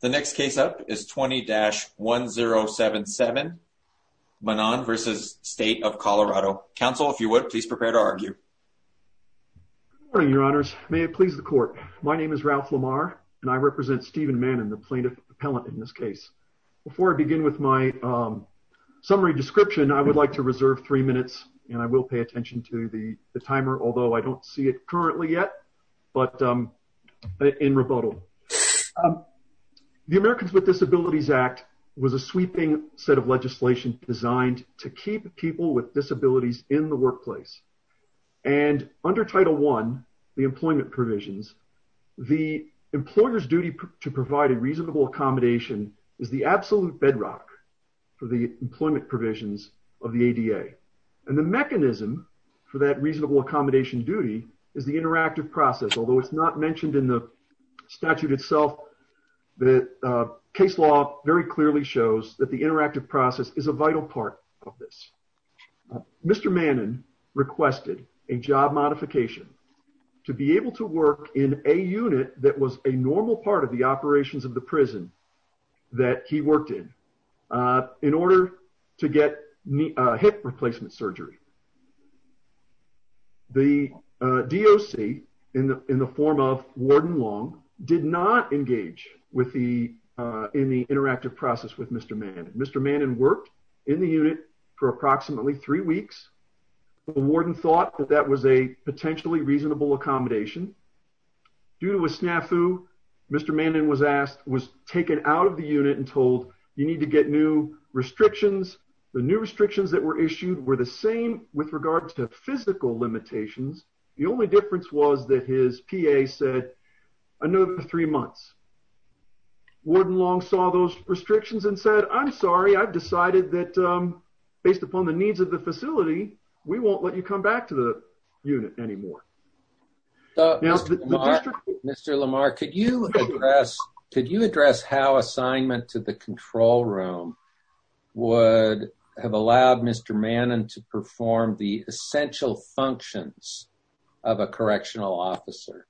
The next case up is 20-1077 Manan v. State of Colorado. Counsel, if you would, please prepare to argue. Good morning, your honors. May it please the court, my name is Ralph Lamar and I represent Stephen Mannan, the plaintiff appellant in this case. Before I begin with my summary description, I would like to reserve three minutes and I will pay attention to the timer, although I don't see it currently yet, but in rebuttal. The Americans with Disabilities Act was a sweeping set of legislation designed to keep people with disabilities in the workplace. And under Title I, the employment provisions, the employer's duty to provide a reasonable accommodation is the absolute bedrock for the employment provisions of the ADA. And the mechanism for that reasonable accommodation duty is the interactive process, although it's not mentioned in the statute itself, the case law very clearly shows that the interactive process is a vital part of this. Mr. Mannan requested a job modification to be able to work in a unit that was a normal part of the operations of the prison that he worked in, in order to get hip replacement surgery. The DOC, in the form of Warden Long, did not engage with the, in the interactive process with Mr. Mannan. Mr. Mannan worked in the unit for approximately three weeks. The warden thought that that was a potentially reasonable accommodation. Due to a snafu, Mr. Mannan was asked, was taken out of the unit and told, you need to get new restrictions. The new restrictions that were issued were the same with regard to physical limitations. The only difference was that his PA said, another three months. Warden Long saw those restrictions and said, I'm sorry, I've decided that based upon the needs of the facility, we won't let you come back to the unit anymore. Mr. Lamar, could you address, could you address how assignment to the control room would have allowed Mr. Mannan to perform the essential functions of a correctional officer?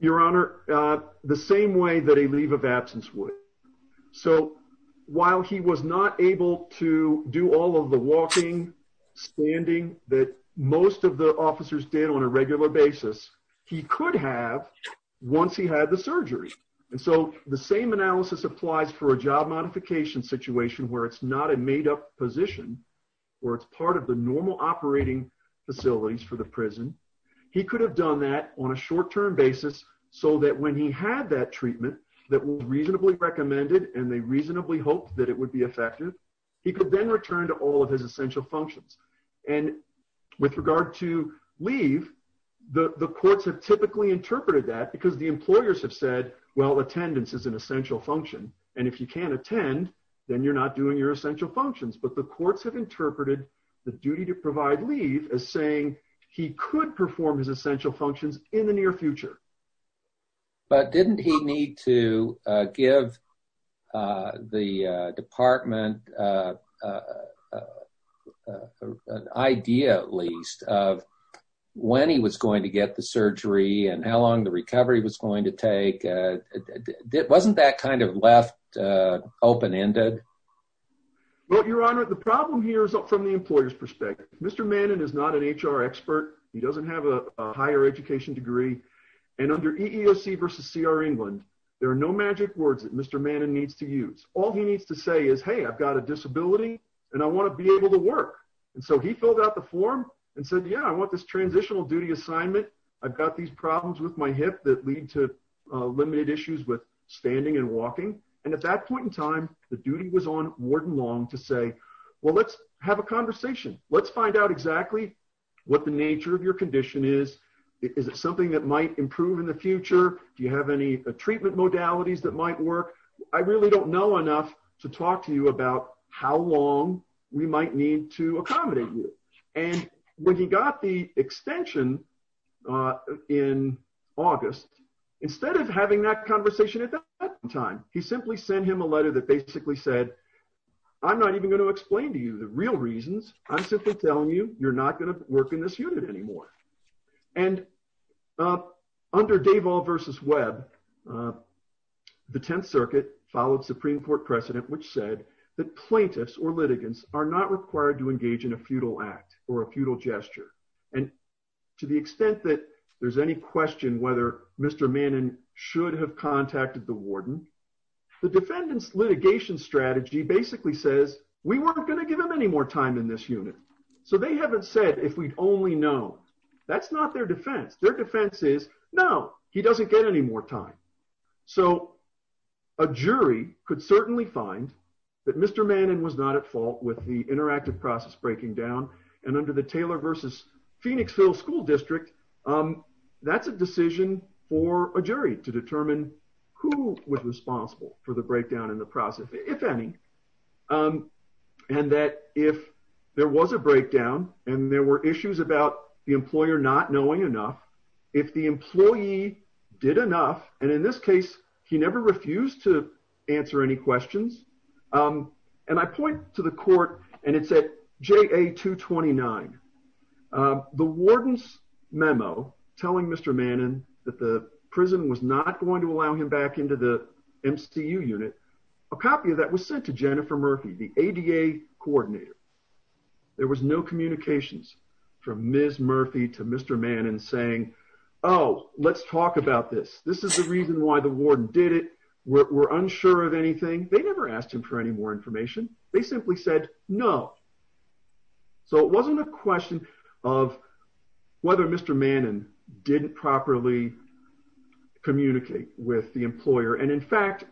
Your Honor, the same way that a leave of absence would. So while he was not able to do all of the walking, standing that most of the officers did on a regular basis, he could have once he had surgery. And so the same analysis applies for a job modification situation where it's not a made up position or it's part of the normal operating facilities for the prison. He could have done that on a short term basis so that when he had that treatment that was reasonably recommended and they reasonably hoped that it would be effective, he could then return to all of his essential functions. And with regard to leave, the courts have typically interpreted that because the employers have said, well, attendance is an essential function. And if you can't attend, then you're not doing your essential functions. But the courts have interpreted the duty to provide leave as saying he could perform his essential functions in the near future. But didn't he need to give the department an idea at least of when he was going to get the surgery and how long the recovery was going to take? Wasn't that kind of left open ended? Well, Your Honor, the problem here is from the employer's perspective. Mr. Mannin is not an HR expert. He doesn't have a higher education degree. And under EEOC versus C.R. England, there are no magic words that Mr. Mannin needs to use. All he needs to say is, hey, I've got a disability and I want to be able to work. And so he filled out the form and said, yeah, I want this transitional duty assignment. I've got these problems with my hip that lead to limited issues with standing and walking. And at that point in time, the duty was on Warden Long to say, well, let's have a conversation. Let's find out exactly what the nature of your condition is. Is it something that might improve in the future? Do you have any treatment modalities that might work? I really don't know enough to talk to you about how long we might need to accommodate you. And when he got the extension in August, instead of having that conversation at that time, he simply sent him a letter that basically said, I'm not even going to explain to you the real reasons. I'm simply telling you, you're not going to work in this unit anymore. And under Davol versus Webb, the 10th Circuit followed Supreme Court precedent, which said that plaintiffs or litigants are not required to engage in a futile act or a futile gesture. And to the extent that there's any question whether Mr. Mannin should have contacted the warden, the defendant's litigation strategy basically says, we weren't going to give him any more time in this unit. So they haven't said, if we'd only known. That's not their defense. Their defense is, no, he doesn't get any more time. So a jury could certainly find that Mr. Mannin was not at fault with the interactive process breaking down. And under the Taylor versus Phoenixville School District, that's a decision for a jury to determine who was responsible for the breakdown in the process, if any. And that if there was a breakdown and there were issues about the employer not knowing enough, if the employee did enough, and in this case, he never refused to answer any questions. And I point to the court, and it's at JA 229. The warden's memo telling Mr. Mannin that the prison was not going to allow him back into the MCU unit, a copy of that was sent to Jennifer Murphy, the ADA coordinator. There was no communications from Ms. Murphy to Mr. Mannin saying, oh, let's talk about this. This is the reason why the warden did it. We're unsure of any more information. They simply said, no. So it wasn't a question of whether Mr. Mannin didn't properly communicate with the employer. And in fact,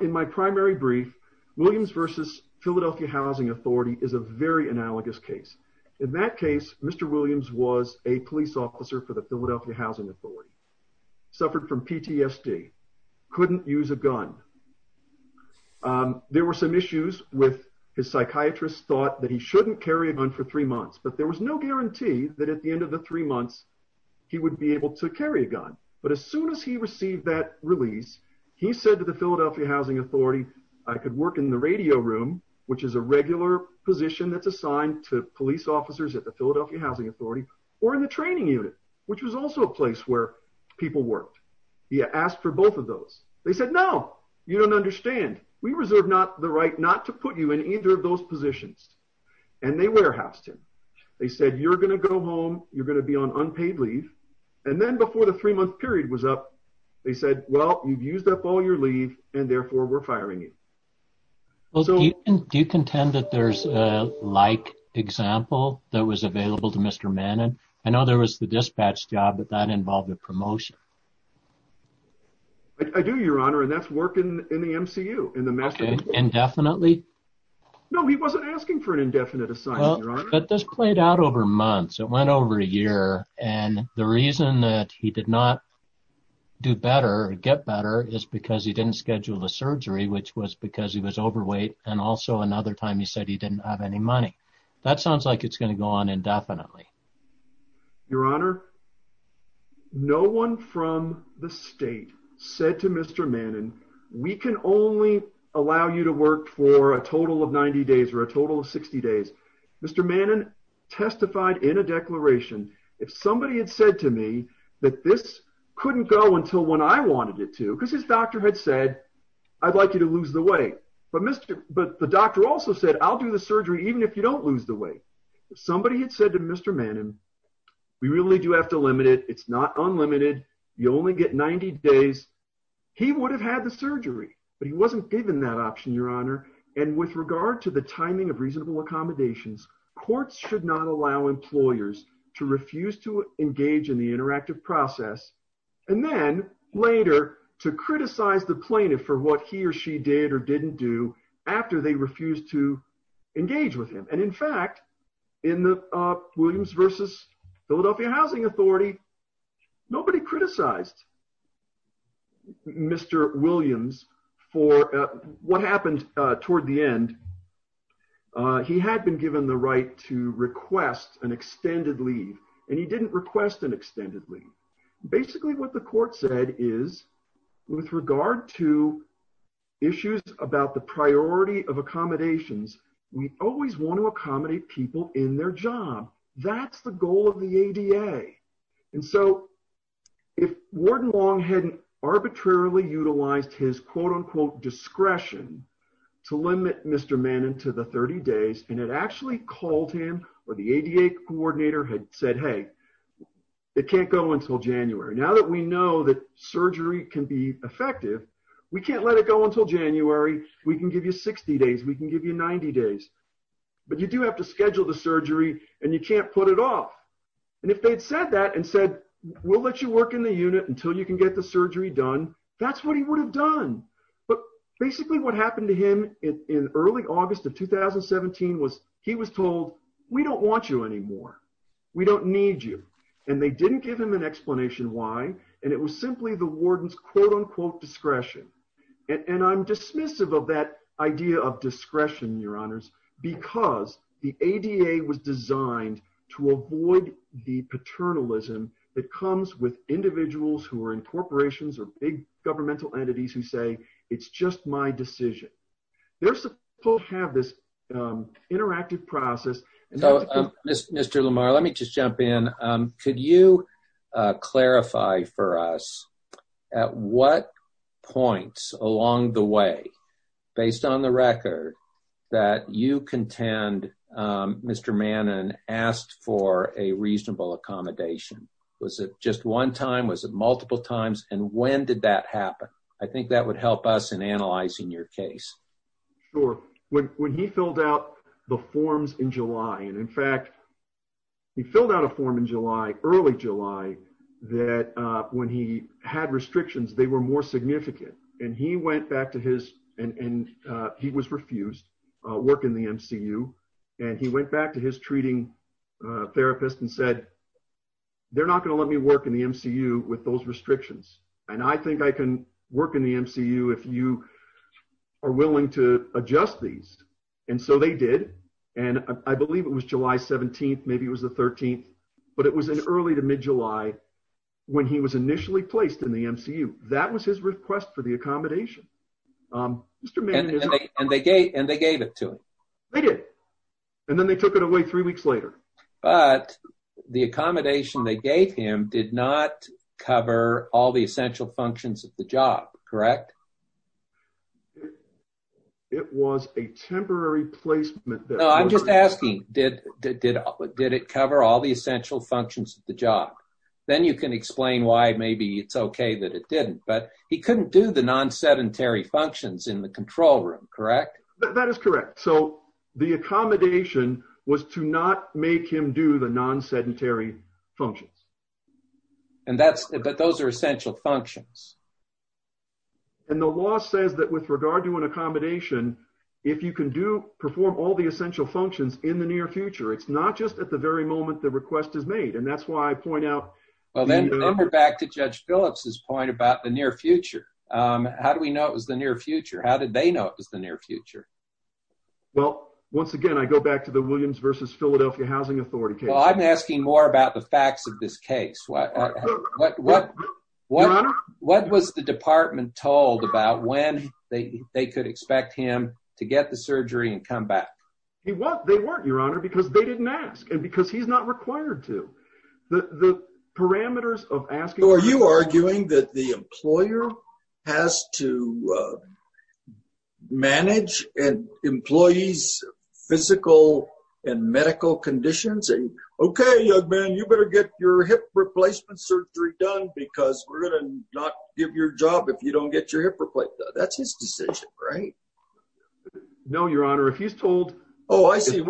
in my primary brief, Williams versus Philadelphia Housing Authority is a very analogous case. In that case, Mr. Williams was a police officer for the Philadelphia Housing Authority, suffered from PTSD, couldn't use a gun. There were some issues with his psychiatrist thought that he shouldn't carry a gun for three months, but there was no guarantee that at the end of the three months he would be able to carry a gun. But as soon as he received that release, he said to the Philadelphia Housing Authority, I could work in the radio room, which is a regular position that's assigned to police officers at the Philadelphia Housing Authority or in the training unit, which was also a place where people worked. He asked for both of those. They said, no, you don't understand. We reserve not the right not to put you in either of those positions. And they warehoused him. They said, you're going to go home. You're going to be on unpaid leave. And then before the three month period was up, they said, well, you've used up all your leave and therefore we're firing you. Well, do you contend that there's a like example that was available to Mr. Mannin? I know there was the dispatch job, but that involved a promotion. I do your honor. And that's working in the MCU and the master indefinitely. No, he wasn't asking for an indefinite assignment. But this played out over months. It went over a year. And the reason that he did not do better get better is because he didn't schedule the surgery, which was because he was overweight. And also another time he said he didn't have any money. That sounds like it's going to go indefinitely. Your honor. No one from the state said to Mr. Mannin, we can only allow you to work for a total of 90 days or a total of 60 days. Mr. Mannin testified in a declaration. If somebody had said to me that this couldn't go until when I wanted it to, because his doctor had said, I'd like you to lose the way. But Mr. But the doctor also said, I'll do the surgery, even if you don't lose the way somebody had said to Mr. Mannin, we really do have to limit it. It's not unlimited. You only get 90 days. He would have had the surgery, but he wasn't given that option, your honor. And with regard to the timing of reasonable accommodations, courts should not allow employers to refuse to engage in the interactive process. And then later to criticize the plaintiff for what he or she did or didn't do after they refused to engage with him. And in fact, in the Williams versus Philadelphia housing authority, nobody criticized Mr. Williams for what happened toward the end. He had been given the right to request an extended leave, and he didn't request an extended leave. Basically what the court said is with regard to issues about the priority of accommodations, we always want to accommodate people in their job. That's the goal of the ADA. And so if Warden Long hadn't arbitrarily utilized his quote unquote discretion to limit Mr. Mannin to the 30 days, and it actually called him or the ADA coordinator had said, hey, it can't go until January. Now that we know that surgery can be effective, we can't let it go until January. We can give you 60 days. We can give you 90 days, but you do have to schedule the surgery and you can't put it off. And if they'd said that and said, we'll let you work in the unit until you can get the surgery done, that's what he would have done. But basically what happened to him in early August of 2017 was he was told, we don't want you anymore. We don't need you. And they didn't give him an explanation why. And it was simply the warden's quote unquote discretion. And I'm dismissive of that idea of discretion, your honors, because the ADA was designed to avoid the paternalism that comes with individuals who are in corporations or big governmental entities who say, it's just my decision. They're supposed to have this interactive process. Mr. Lamar, let me just jump in. Could you clarify for us at what points along the way, based on the record, that you contend Mr. Mannin asked for a reasonable accommodation? Was it just one time? Was it multiple times? And when did that happen? I think that would help us in analyzing your case. Sure. When he filled out the forms in July, and in fact, he filled out a form in July, early July, that when he had restrictions, they were more significant. And he went back to his, and he was refused work in the MCU. And he went back to his treating therapist and said, they're not going to let me work in the MCU with those restrictions. And I think I can work in the MCU if you are willing to adjust these. And so they did. And I believe it was July 17. Maybe it was the 13th. But it was an early to mid July, when he was initially placed in the MCU. That was his request for the accommodation. And they gave it to him. They did. And then they took it away three weeks later. But the accommodation they gave him did not cover all the essential functions of the job, correct? It was a temporary placement. No, I'm just asking, did it cover all the essential functions of the functions in the control room, correct? That is correct. So the accommodation was to not make him do the non-sedentary functions. And that's, but those are essential functions. And the law says that with regard to an accommodation, if you can do, perform all the essential functions in the near future, it's not just at the very moment the request is made. And that's why I point out. Well, then go back to Judge Phillips's point about the near future. How do we know it was the near future? How did they know it was the near future? Well, once again, I go back to the Williams versus Philadelphia Housing Authority case. Well, I'm asking more about the facts of this case. What was the department told about when they could expect him to get the surgery and come back? They weren't, Your Honor, because they didn't ask. And because he's not required to. The parameters of asking. Are you arguing that the employer has to manage an employee's physical and medical conditions? Okay, young man, you better get your hip replacement surgery done because we're going to not give your job if you don't get your hip replaced. That's his decision, right? No, Your Honor, he's told. Oh, I see.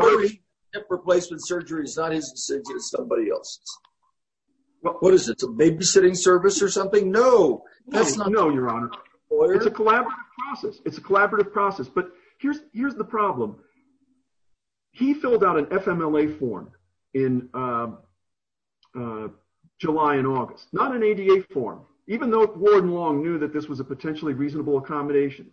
Hip replacement surgery is not his decision. It's somebody else's. What is it, a babysitting service or something? No, that's not. No, Your Honor. It's a collaborative process. It's a collaborative process. But here's the problem. He filled out an FMLA form in July and August, not an ADA form, even though Warden Long knew that this was a potentially reasonable accommodation.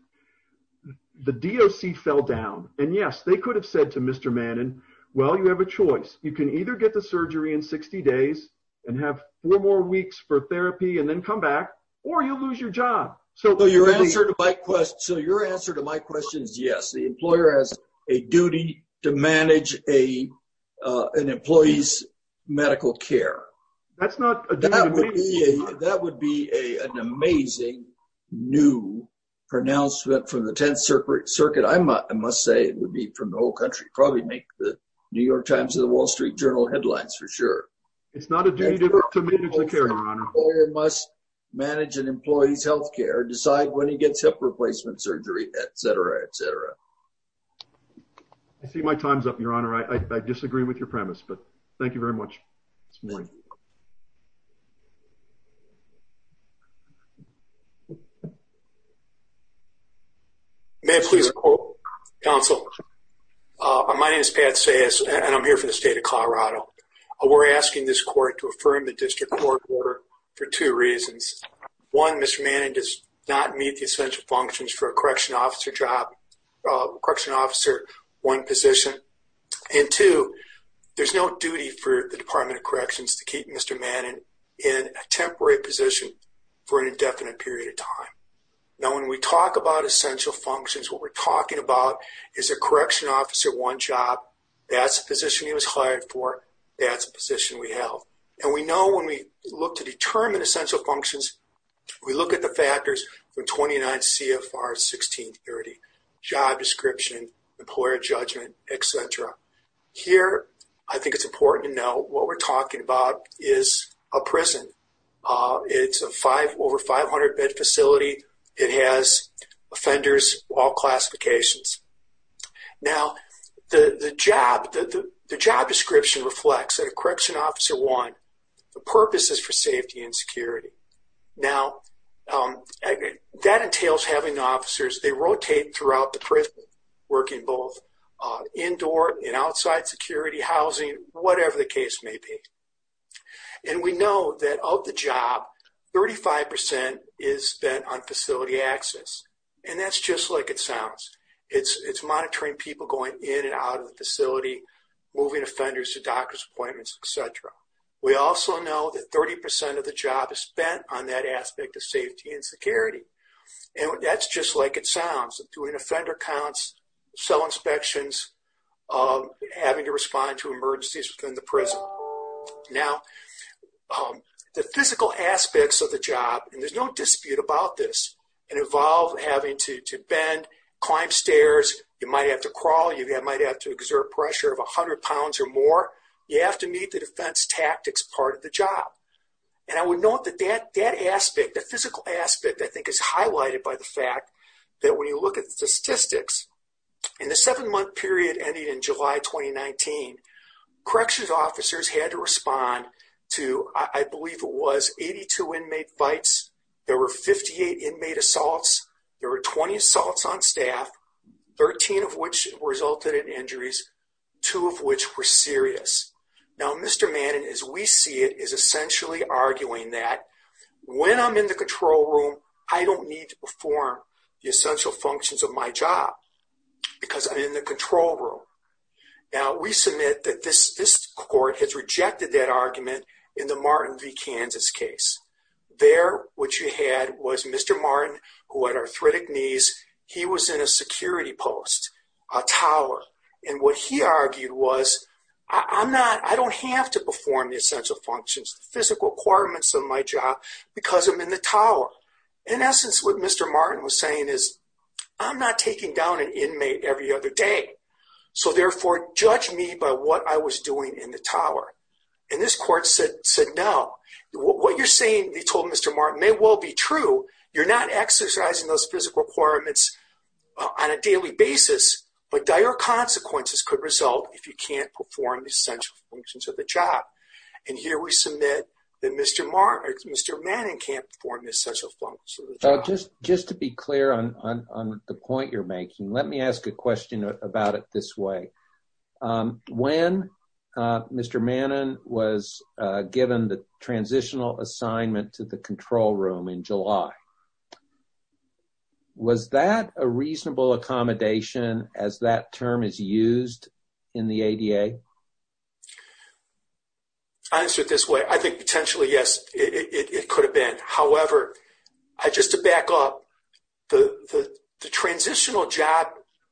The DOC fell down. And yes, they could have said to Mr. Manning, well, you have a choice. You can either get the surgery in 60 days and have four more weeks for therapy and then come back or you'll lose your job. So your answer to my question is yes. The employer has a duty to manage an employee's medical care. That's not a duty. That would be an amazing new pronouncement from the 10th Circuit. I must say it would be from the whole country, probably make the New York Times or the Wall Street Journal headlines for sure. It's not a duty to manage the care, Your Honor. The employer must manage an employee's health care, decide when he gets hip replacement surgery, etc., etc. I see my time's up, Your Honor. I disagree with your premise, but thank you very much. May I please quote, counsel? My name is Pat Sayes and I'm here for the state of Colorado. We're asking this court to affirm the district court order for two reasons. One, Mr. Manning does not meet the essential functions for a correction officer job, correction officer one position. And two, there's no duty for the Department of Corrections to keep Mr. Manning in a temporary position for an indefinite period of time. Now when we talk about essential functions, what we're talking about is a correction officer one job. That's the position he was hired for. That's the position we held. And we know when we look to determine essential functions, we look at the factors from 29 CFR 1630, job description, employer judgment, etc. Here I think it's important to know what we're talking about is a prison. It's a five over 500 bed facility. It has offenders, all classifications. Now the job description reflects that a correction officer one, the purpose is for safety and security. Now that entails having officers, they rotate throughout the prison, working both indoor and outside security, housing, whatever the case may be. And we know that of the job, 35% is spent on facility access. And that's just like it sounds. It's monitoring people going in and out of the facility, moving offenders to doctor's appointments, etc. We also know that 30% of the job is spent on that aspect of safety and security. And that's just like it sounds, doing offender counts, cell inspections, having to respond to emergencies within the prison. Now, the physical aspects of the job, and there's no dispute about this, and involve having to bend, climb stairs, you might have to crawl, you might have to exert pressure of 100 pounds or more. You have to meet the defense tactics part of the job. And I would note that that aspect, the physical aspect, I think is highlighted by the fact that when you look at the statistics, in the seven month period ending in July 2019, corrections officers had to respond to, I believe was 82 inmate fights. There were 58 inmate assaults. There were 20 assaults on staff, 13 of which resulted in injuries, two of which were serious. Now, Mr. Manning, as we see it, is essentially arguing that when I'm in the control room, I don't need to perform the essential functions of my job because I'm in the control room. Now, we submit that this case. There, what you had was Mr. Martin, who had arthritic knees. He was in a security post, a tower. And what he argued was, I'm not, I don't have to perform the essential functions, physical requirements of my job because I'm in the tower. In essence, what Mr. Martin was saying is, I'm not taking down an inmate every other day. So therefore, judge me by what I was doing in the tower. And this court said, no, what you're saying they told Mr. Martin may well be true. You're not exercising those physical requirements on a daily basis, but dire consequences could result if you can't perform the essential functions of the job. And here we submit that Mr. Manning can't perform the essential functions of the job. Just to be clear on the point you're making, let me ask a question about it this way. When Mr. Manning was given the transitional assignment to the control room in July, was that a reasonable accommodation as that term is used in the ADA? I'll answer it this way. I think potentially, yes, it could have been. However, just to back up, the transitional job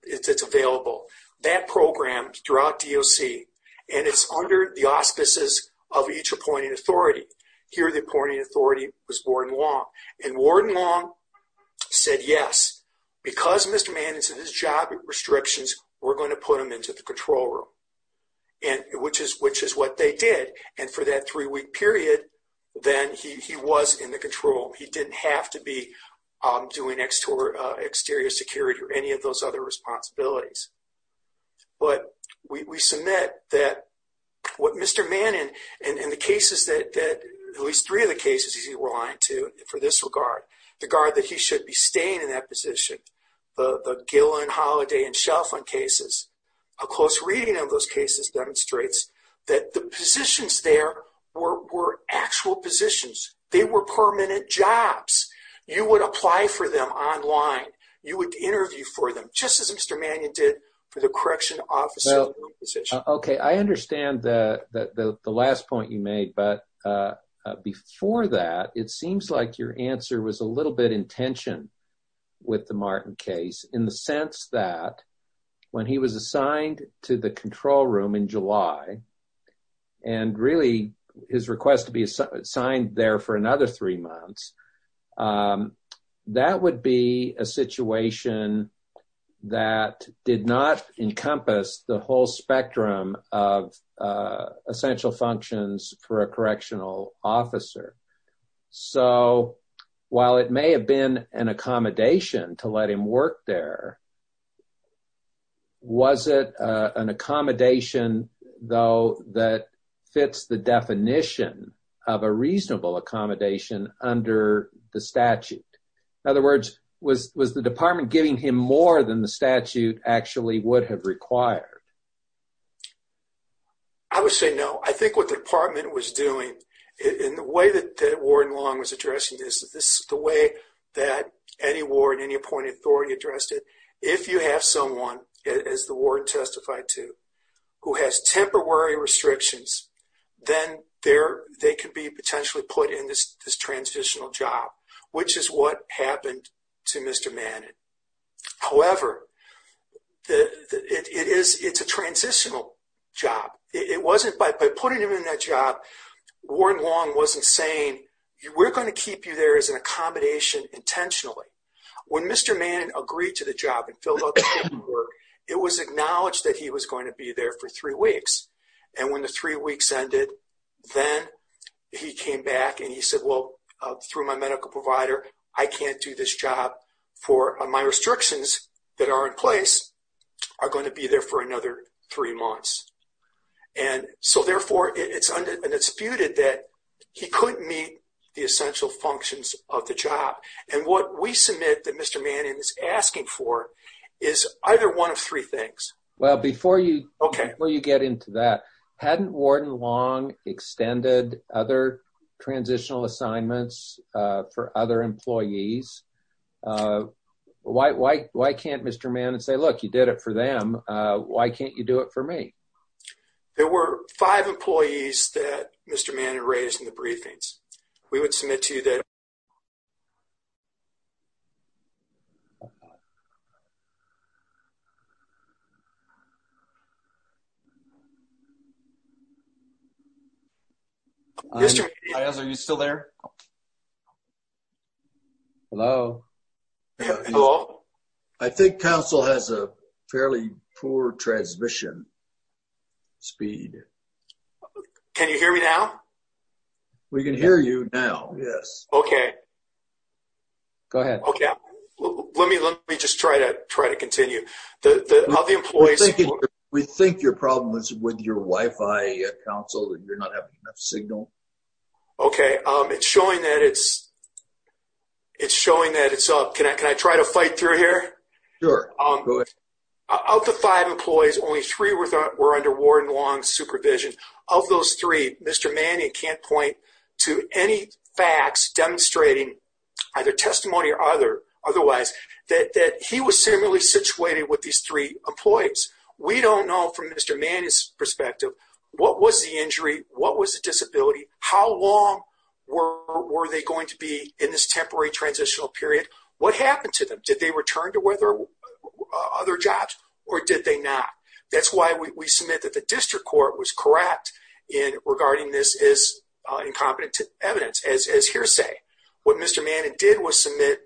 that's available, that program throughout DOC, and it's under the auspices of each appointing authority. Here, the appointing authority was Warren Long. And Warren Long said, yes, because Mr. Manning's job restrictions, we're going to put him into the control room, which is what they did. And for that three-week period, then he was in the control. He didn't have to be doing exterior security or any of those other responsibilities. But we submit that what Mr. Manning, and the cases that at least three of the cases he was relying to for this regard, the guard that he should be staying in that position, the Gillen, Holliday, and Shelford cases, a close reading of those cases demonstrates that the positions there were actual positions. They were permanent jobs. You would apply for them online. You would interview for them, just as Mr. Manning did for the correction office position. Okay, I understand the last point you made. But before that, it seems like your answer was a little bit in tension with the Martin case, in the sense that when he was assigned to the control room in July, and really his request to be assigned there for another three months, that would be a situation that did not encompass the whole spectrum of essential functions for a correctional officer. So while it may have been an accommodation to let him work there, was it an accommodation, though, that fits the definition of a reasonable accommodation under the statute? In other words, was the department giving him more than the statute actually would have required? I would say no. I think what the department was doing, in the way that Warren Long was addressing this, the way that any ward, any appointed authority addressed it, if you have someone, as the ward testified to, who has temporary restrictions, then they can be potentially put in this transitional job, which is what happened to Mr. Manning. However, it's a transitional job. By putting him in that job, Warren Long wasn't saying, we're going to keep you there as an accommodation intentionally. When Mr. Manning agreed to the job and filled out the paperwork, it was acknowledged that he was going to be there for three weeks. And when the three weeks ended, then he came back and he said, well, through my medical provider, I can't do this job for my restrictions that are in place are going to be there for another three months. And so therefore, it's undisputed that he couldn't meet the essential functions of the job. And what we submit that Mr. Manning is asking for is either one of three things. Well, before you get into that, hadn't Warren Long extended other transitional assignments for other employees? Why can't Mr. Manning say, look, you did it for them. Why can't you do it for me? There were five employees that Mr. Manning raised in the We would submit to you that. Mr. Mayes, are you still there? Hello. I think council has a fairly poor transmission speed. Can you hear me now? We can hear you now. Yes. Okay. Go ahead. Okay. Let me let me just try to try to continue the other employees. We think your problem is with your Wi-Fi council that you're not having enough signal. Okay. It's showing that it's it's showing that it's up. Can I can I try to fight through here? Sure. Of the five employees, only three were under Warren Long supervision. Of those three, Mr. Manning can't point to any facts demonstrating either testimony or other otherwise that that he was similarly situated with these three employees. We don't know from Mr. Manning's perspective, what was the injury? What was the disability? How long were they going to be in this temporary transitional period? What happened to them? Did they return to whether other jobs or did they not? That's why we submit that the district court was correct in regarding this as incompetent evidence as hearsay. What Mr. Manning did was submit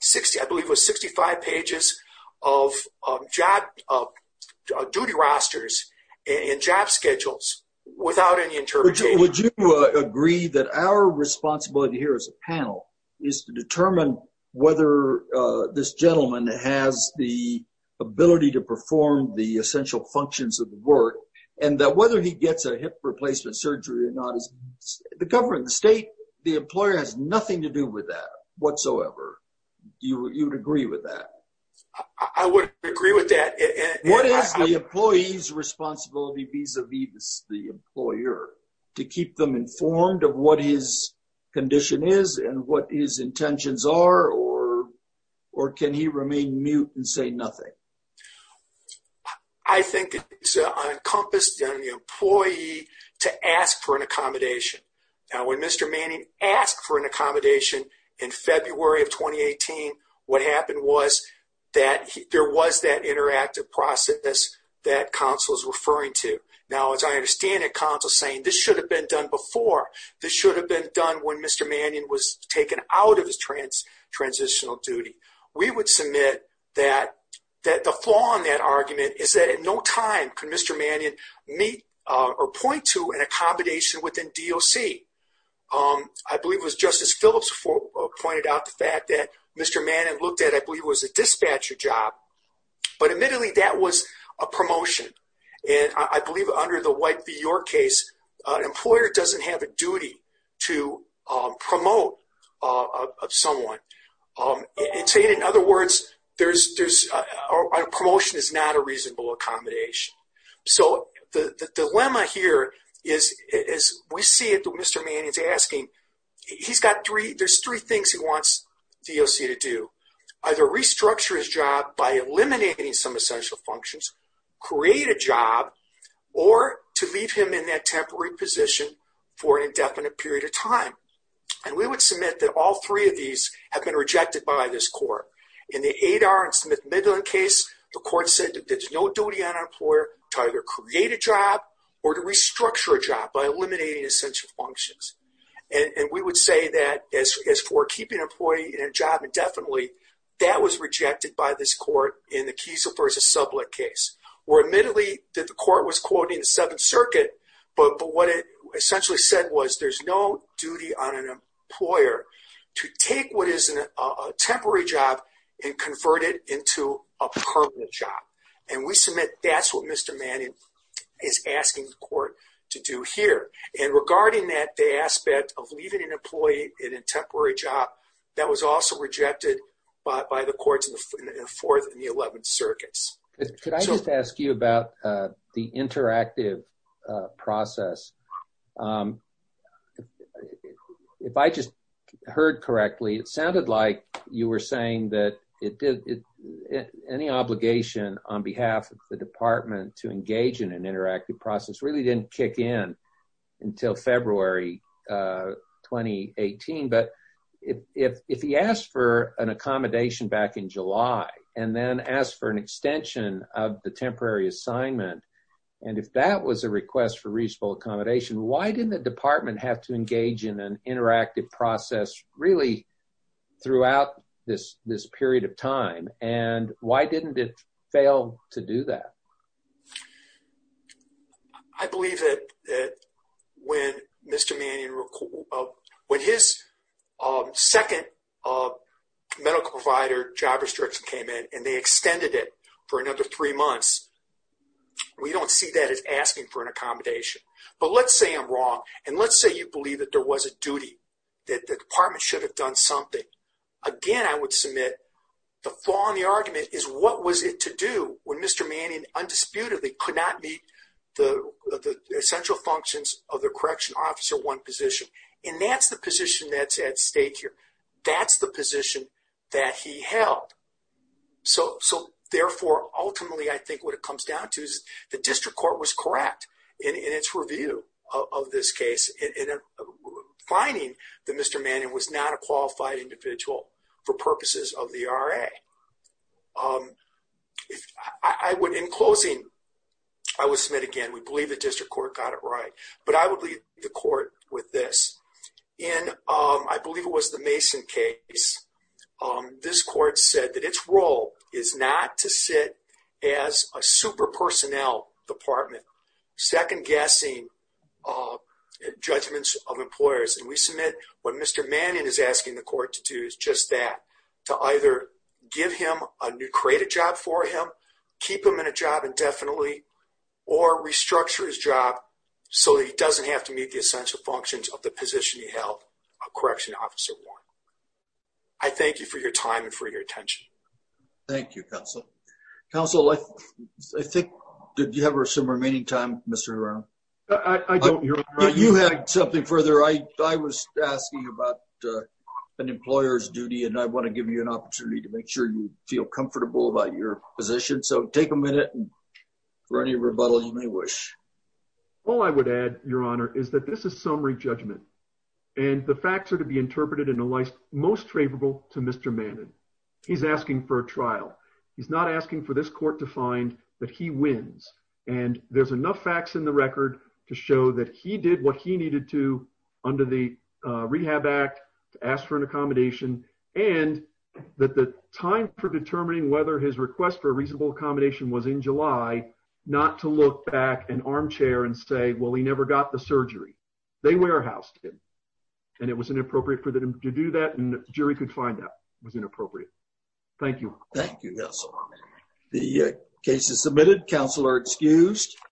60, I believe it was 65 pages of job duty rosters and job schedules without any interpretation. Would you agree that our responsibility here as a panel is to determine whether this gentleman has the ability to perform the essential functions of the work and that whether he gets a hip replacement surgery or not is the government, the state, the employer has nothing to do with that whatsoever. You would agree with that? I would agree with that. What is the employee's responsibility vis-a-vis the employer to keep them informed of what his intentions are or can he remain mute and say nothing? I think it's encompassed on the employee to ask for an accommodation. Now, when Mr. Manning asked for an accommodation in February of 2018, what happened was that there was that interactive process that counsel is referring to. Now, as I understand it, counsel saying this should have been done before. This should have been done when Mr. Manning was taken out of his transitional duty. We would submit that the flaw in that argument is that at no time could Mr. Manning meet or point to an accommodation within DOC. I believe it was Justice Phillips pointed out the fact that Mr. Manning looked at, I believe it was a dispatcher job, but admittedly that was a promotion. I believe under the White v. York case, an employer doesn't have a duty to promote someone. In other words, a promotion is not a reasonable accommodation. The dilemma here is we see it that Mr. Manning is asking, there's three things he wants DOC to do. Either restructure his job by eliminating some essential functions, create a job, or to leave him in that temporary position for an indefinite period of time. We would submit that all three of these have been rejected by this court. In the Adar and Smith Midland case, the court said that there's no duty on an employer to either create a job or to leave an employee in a job indefinitely. That was rejected by this court in the Kiesel v. Sublett case, where admittedly that the court was quoting the Seventh Circuit, but what it essentially said was there's no duty on an employer to take what is a temporary job and convert it into a permanent job. We submit that's what Mr. Manning is asking the court to do here. Regarding that, the aspect of leaving an employee in a temporary job, that was also rejected by the courts in the 11th Circuit. Could I just ask you about the interactive process? If I just heard correctly, it sounded like you were saying that any obligation on behalf of the department to engage in an interactive process really didn't kick in until February 2018, but if he asked for an accommodation back in July and then asked for an extension of the temporary assignment, and if that was a request for reasonable accommodation, why didn't the department have to engage in an interactive process really throughout this period of time, and why didn't it fail to do that? I believe that when Mr. Manning, when his second medical provider job restriction came in and they extended it for another three months, we don't see that as asking for an accommodation. But let's say I'm wrong, and let's say you believe that there was a duty, that the department should have done something. Again, I would submit the flaw in the argument is what was it to do when Mr. Manning undisputedly could not meet the essential functions of the correction officer one position, and that's the position that's at stake here. That's the position that he held. So therefore, ultimately, I think what it comes down to is the district court was correct in its review of this case in finding that Mr. Manning was not a qualified individual for purposes of the RA. In closing, I would submit again, we believe the district court got it right, but I would leave the court with this. In, I believe it was the Mason case, this court said that its role is not to sit as a super personnel department, second guessing judgments of employers, and we submit what Mr. Manning is asking the court to do is just that, to either give him a new, create a job for him, keep him in a job indefinitely, or restructure his job so that he doesn't have to meet the essential functions of the position he held, a correction officer one. I thank you for your time and for your attention. Thank you, counsel. Counsel, I think, did you have some remaining time, Mr. Hirono? I don't, Your Honor. You had something further. I was asking about an employer's duty and I want to give you an opportunity to make sure you feel comfortable about your position. So, take a minute for any rebuttal you may wish. All I would add, Your Honor, is that this is summary judgment and the facts are to be interpreted in a way most favorable to Mr. Manning. He's asking for a trial. He's not asking for this court to find that he wins and there's enough facts in the record to do what he needed to under the Rehab Act to ask for an accommodation and that the time for determining whether his request for a reasonable accommodation was in July, not to look back in armchair and say, well, he never got the surgery. They warehoused him and it was inappropriate for them to do that and the jury could find that was inappropriate. Thank you. Thank you, counsel. The case is submitted. Counsel are excused.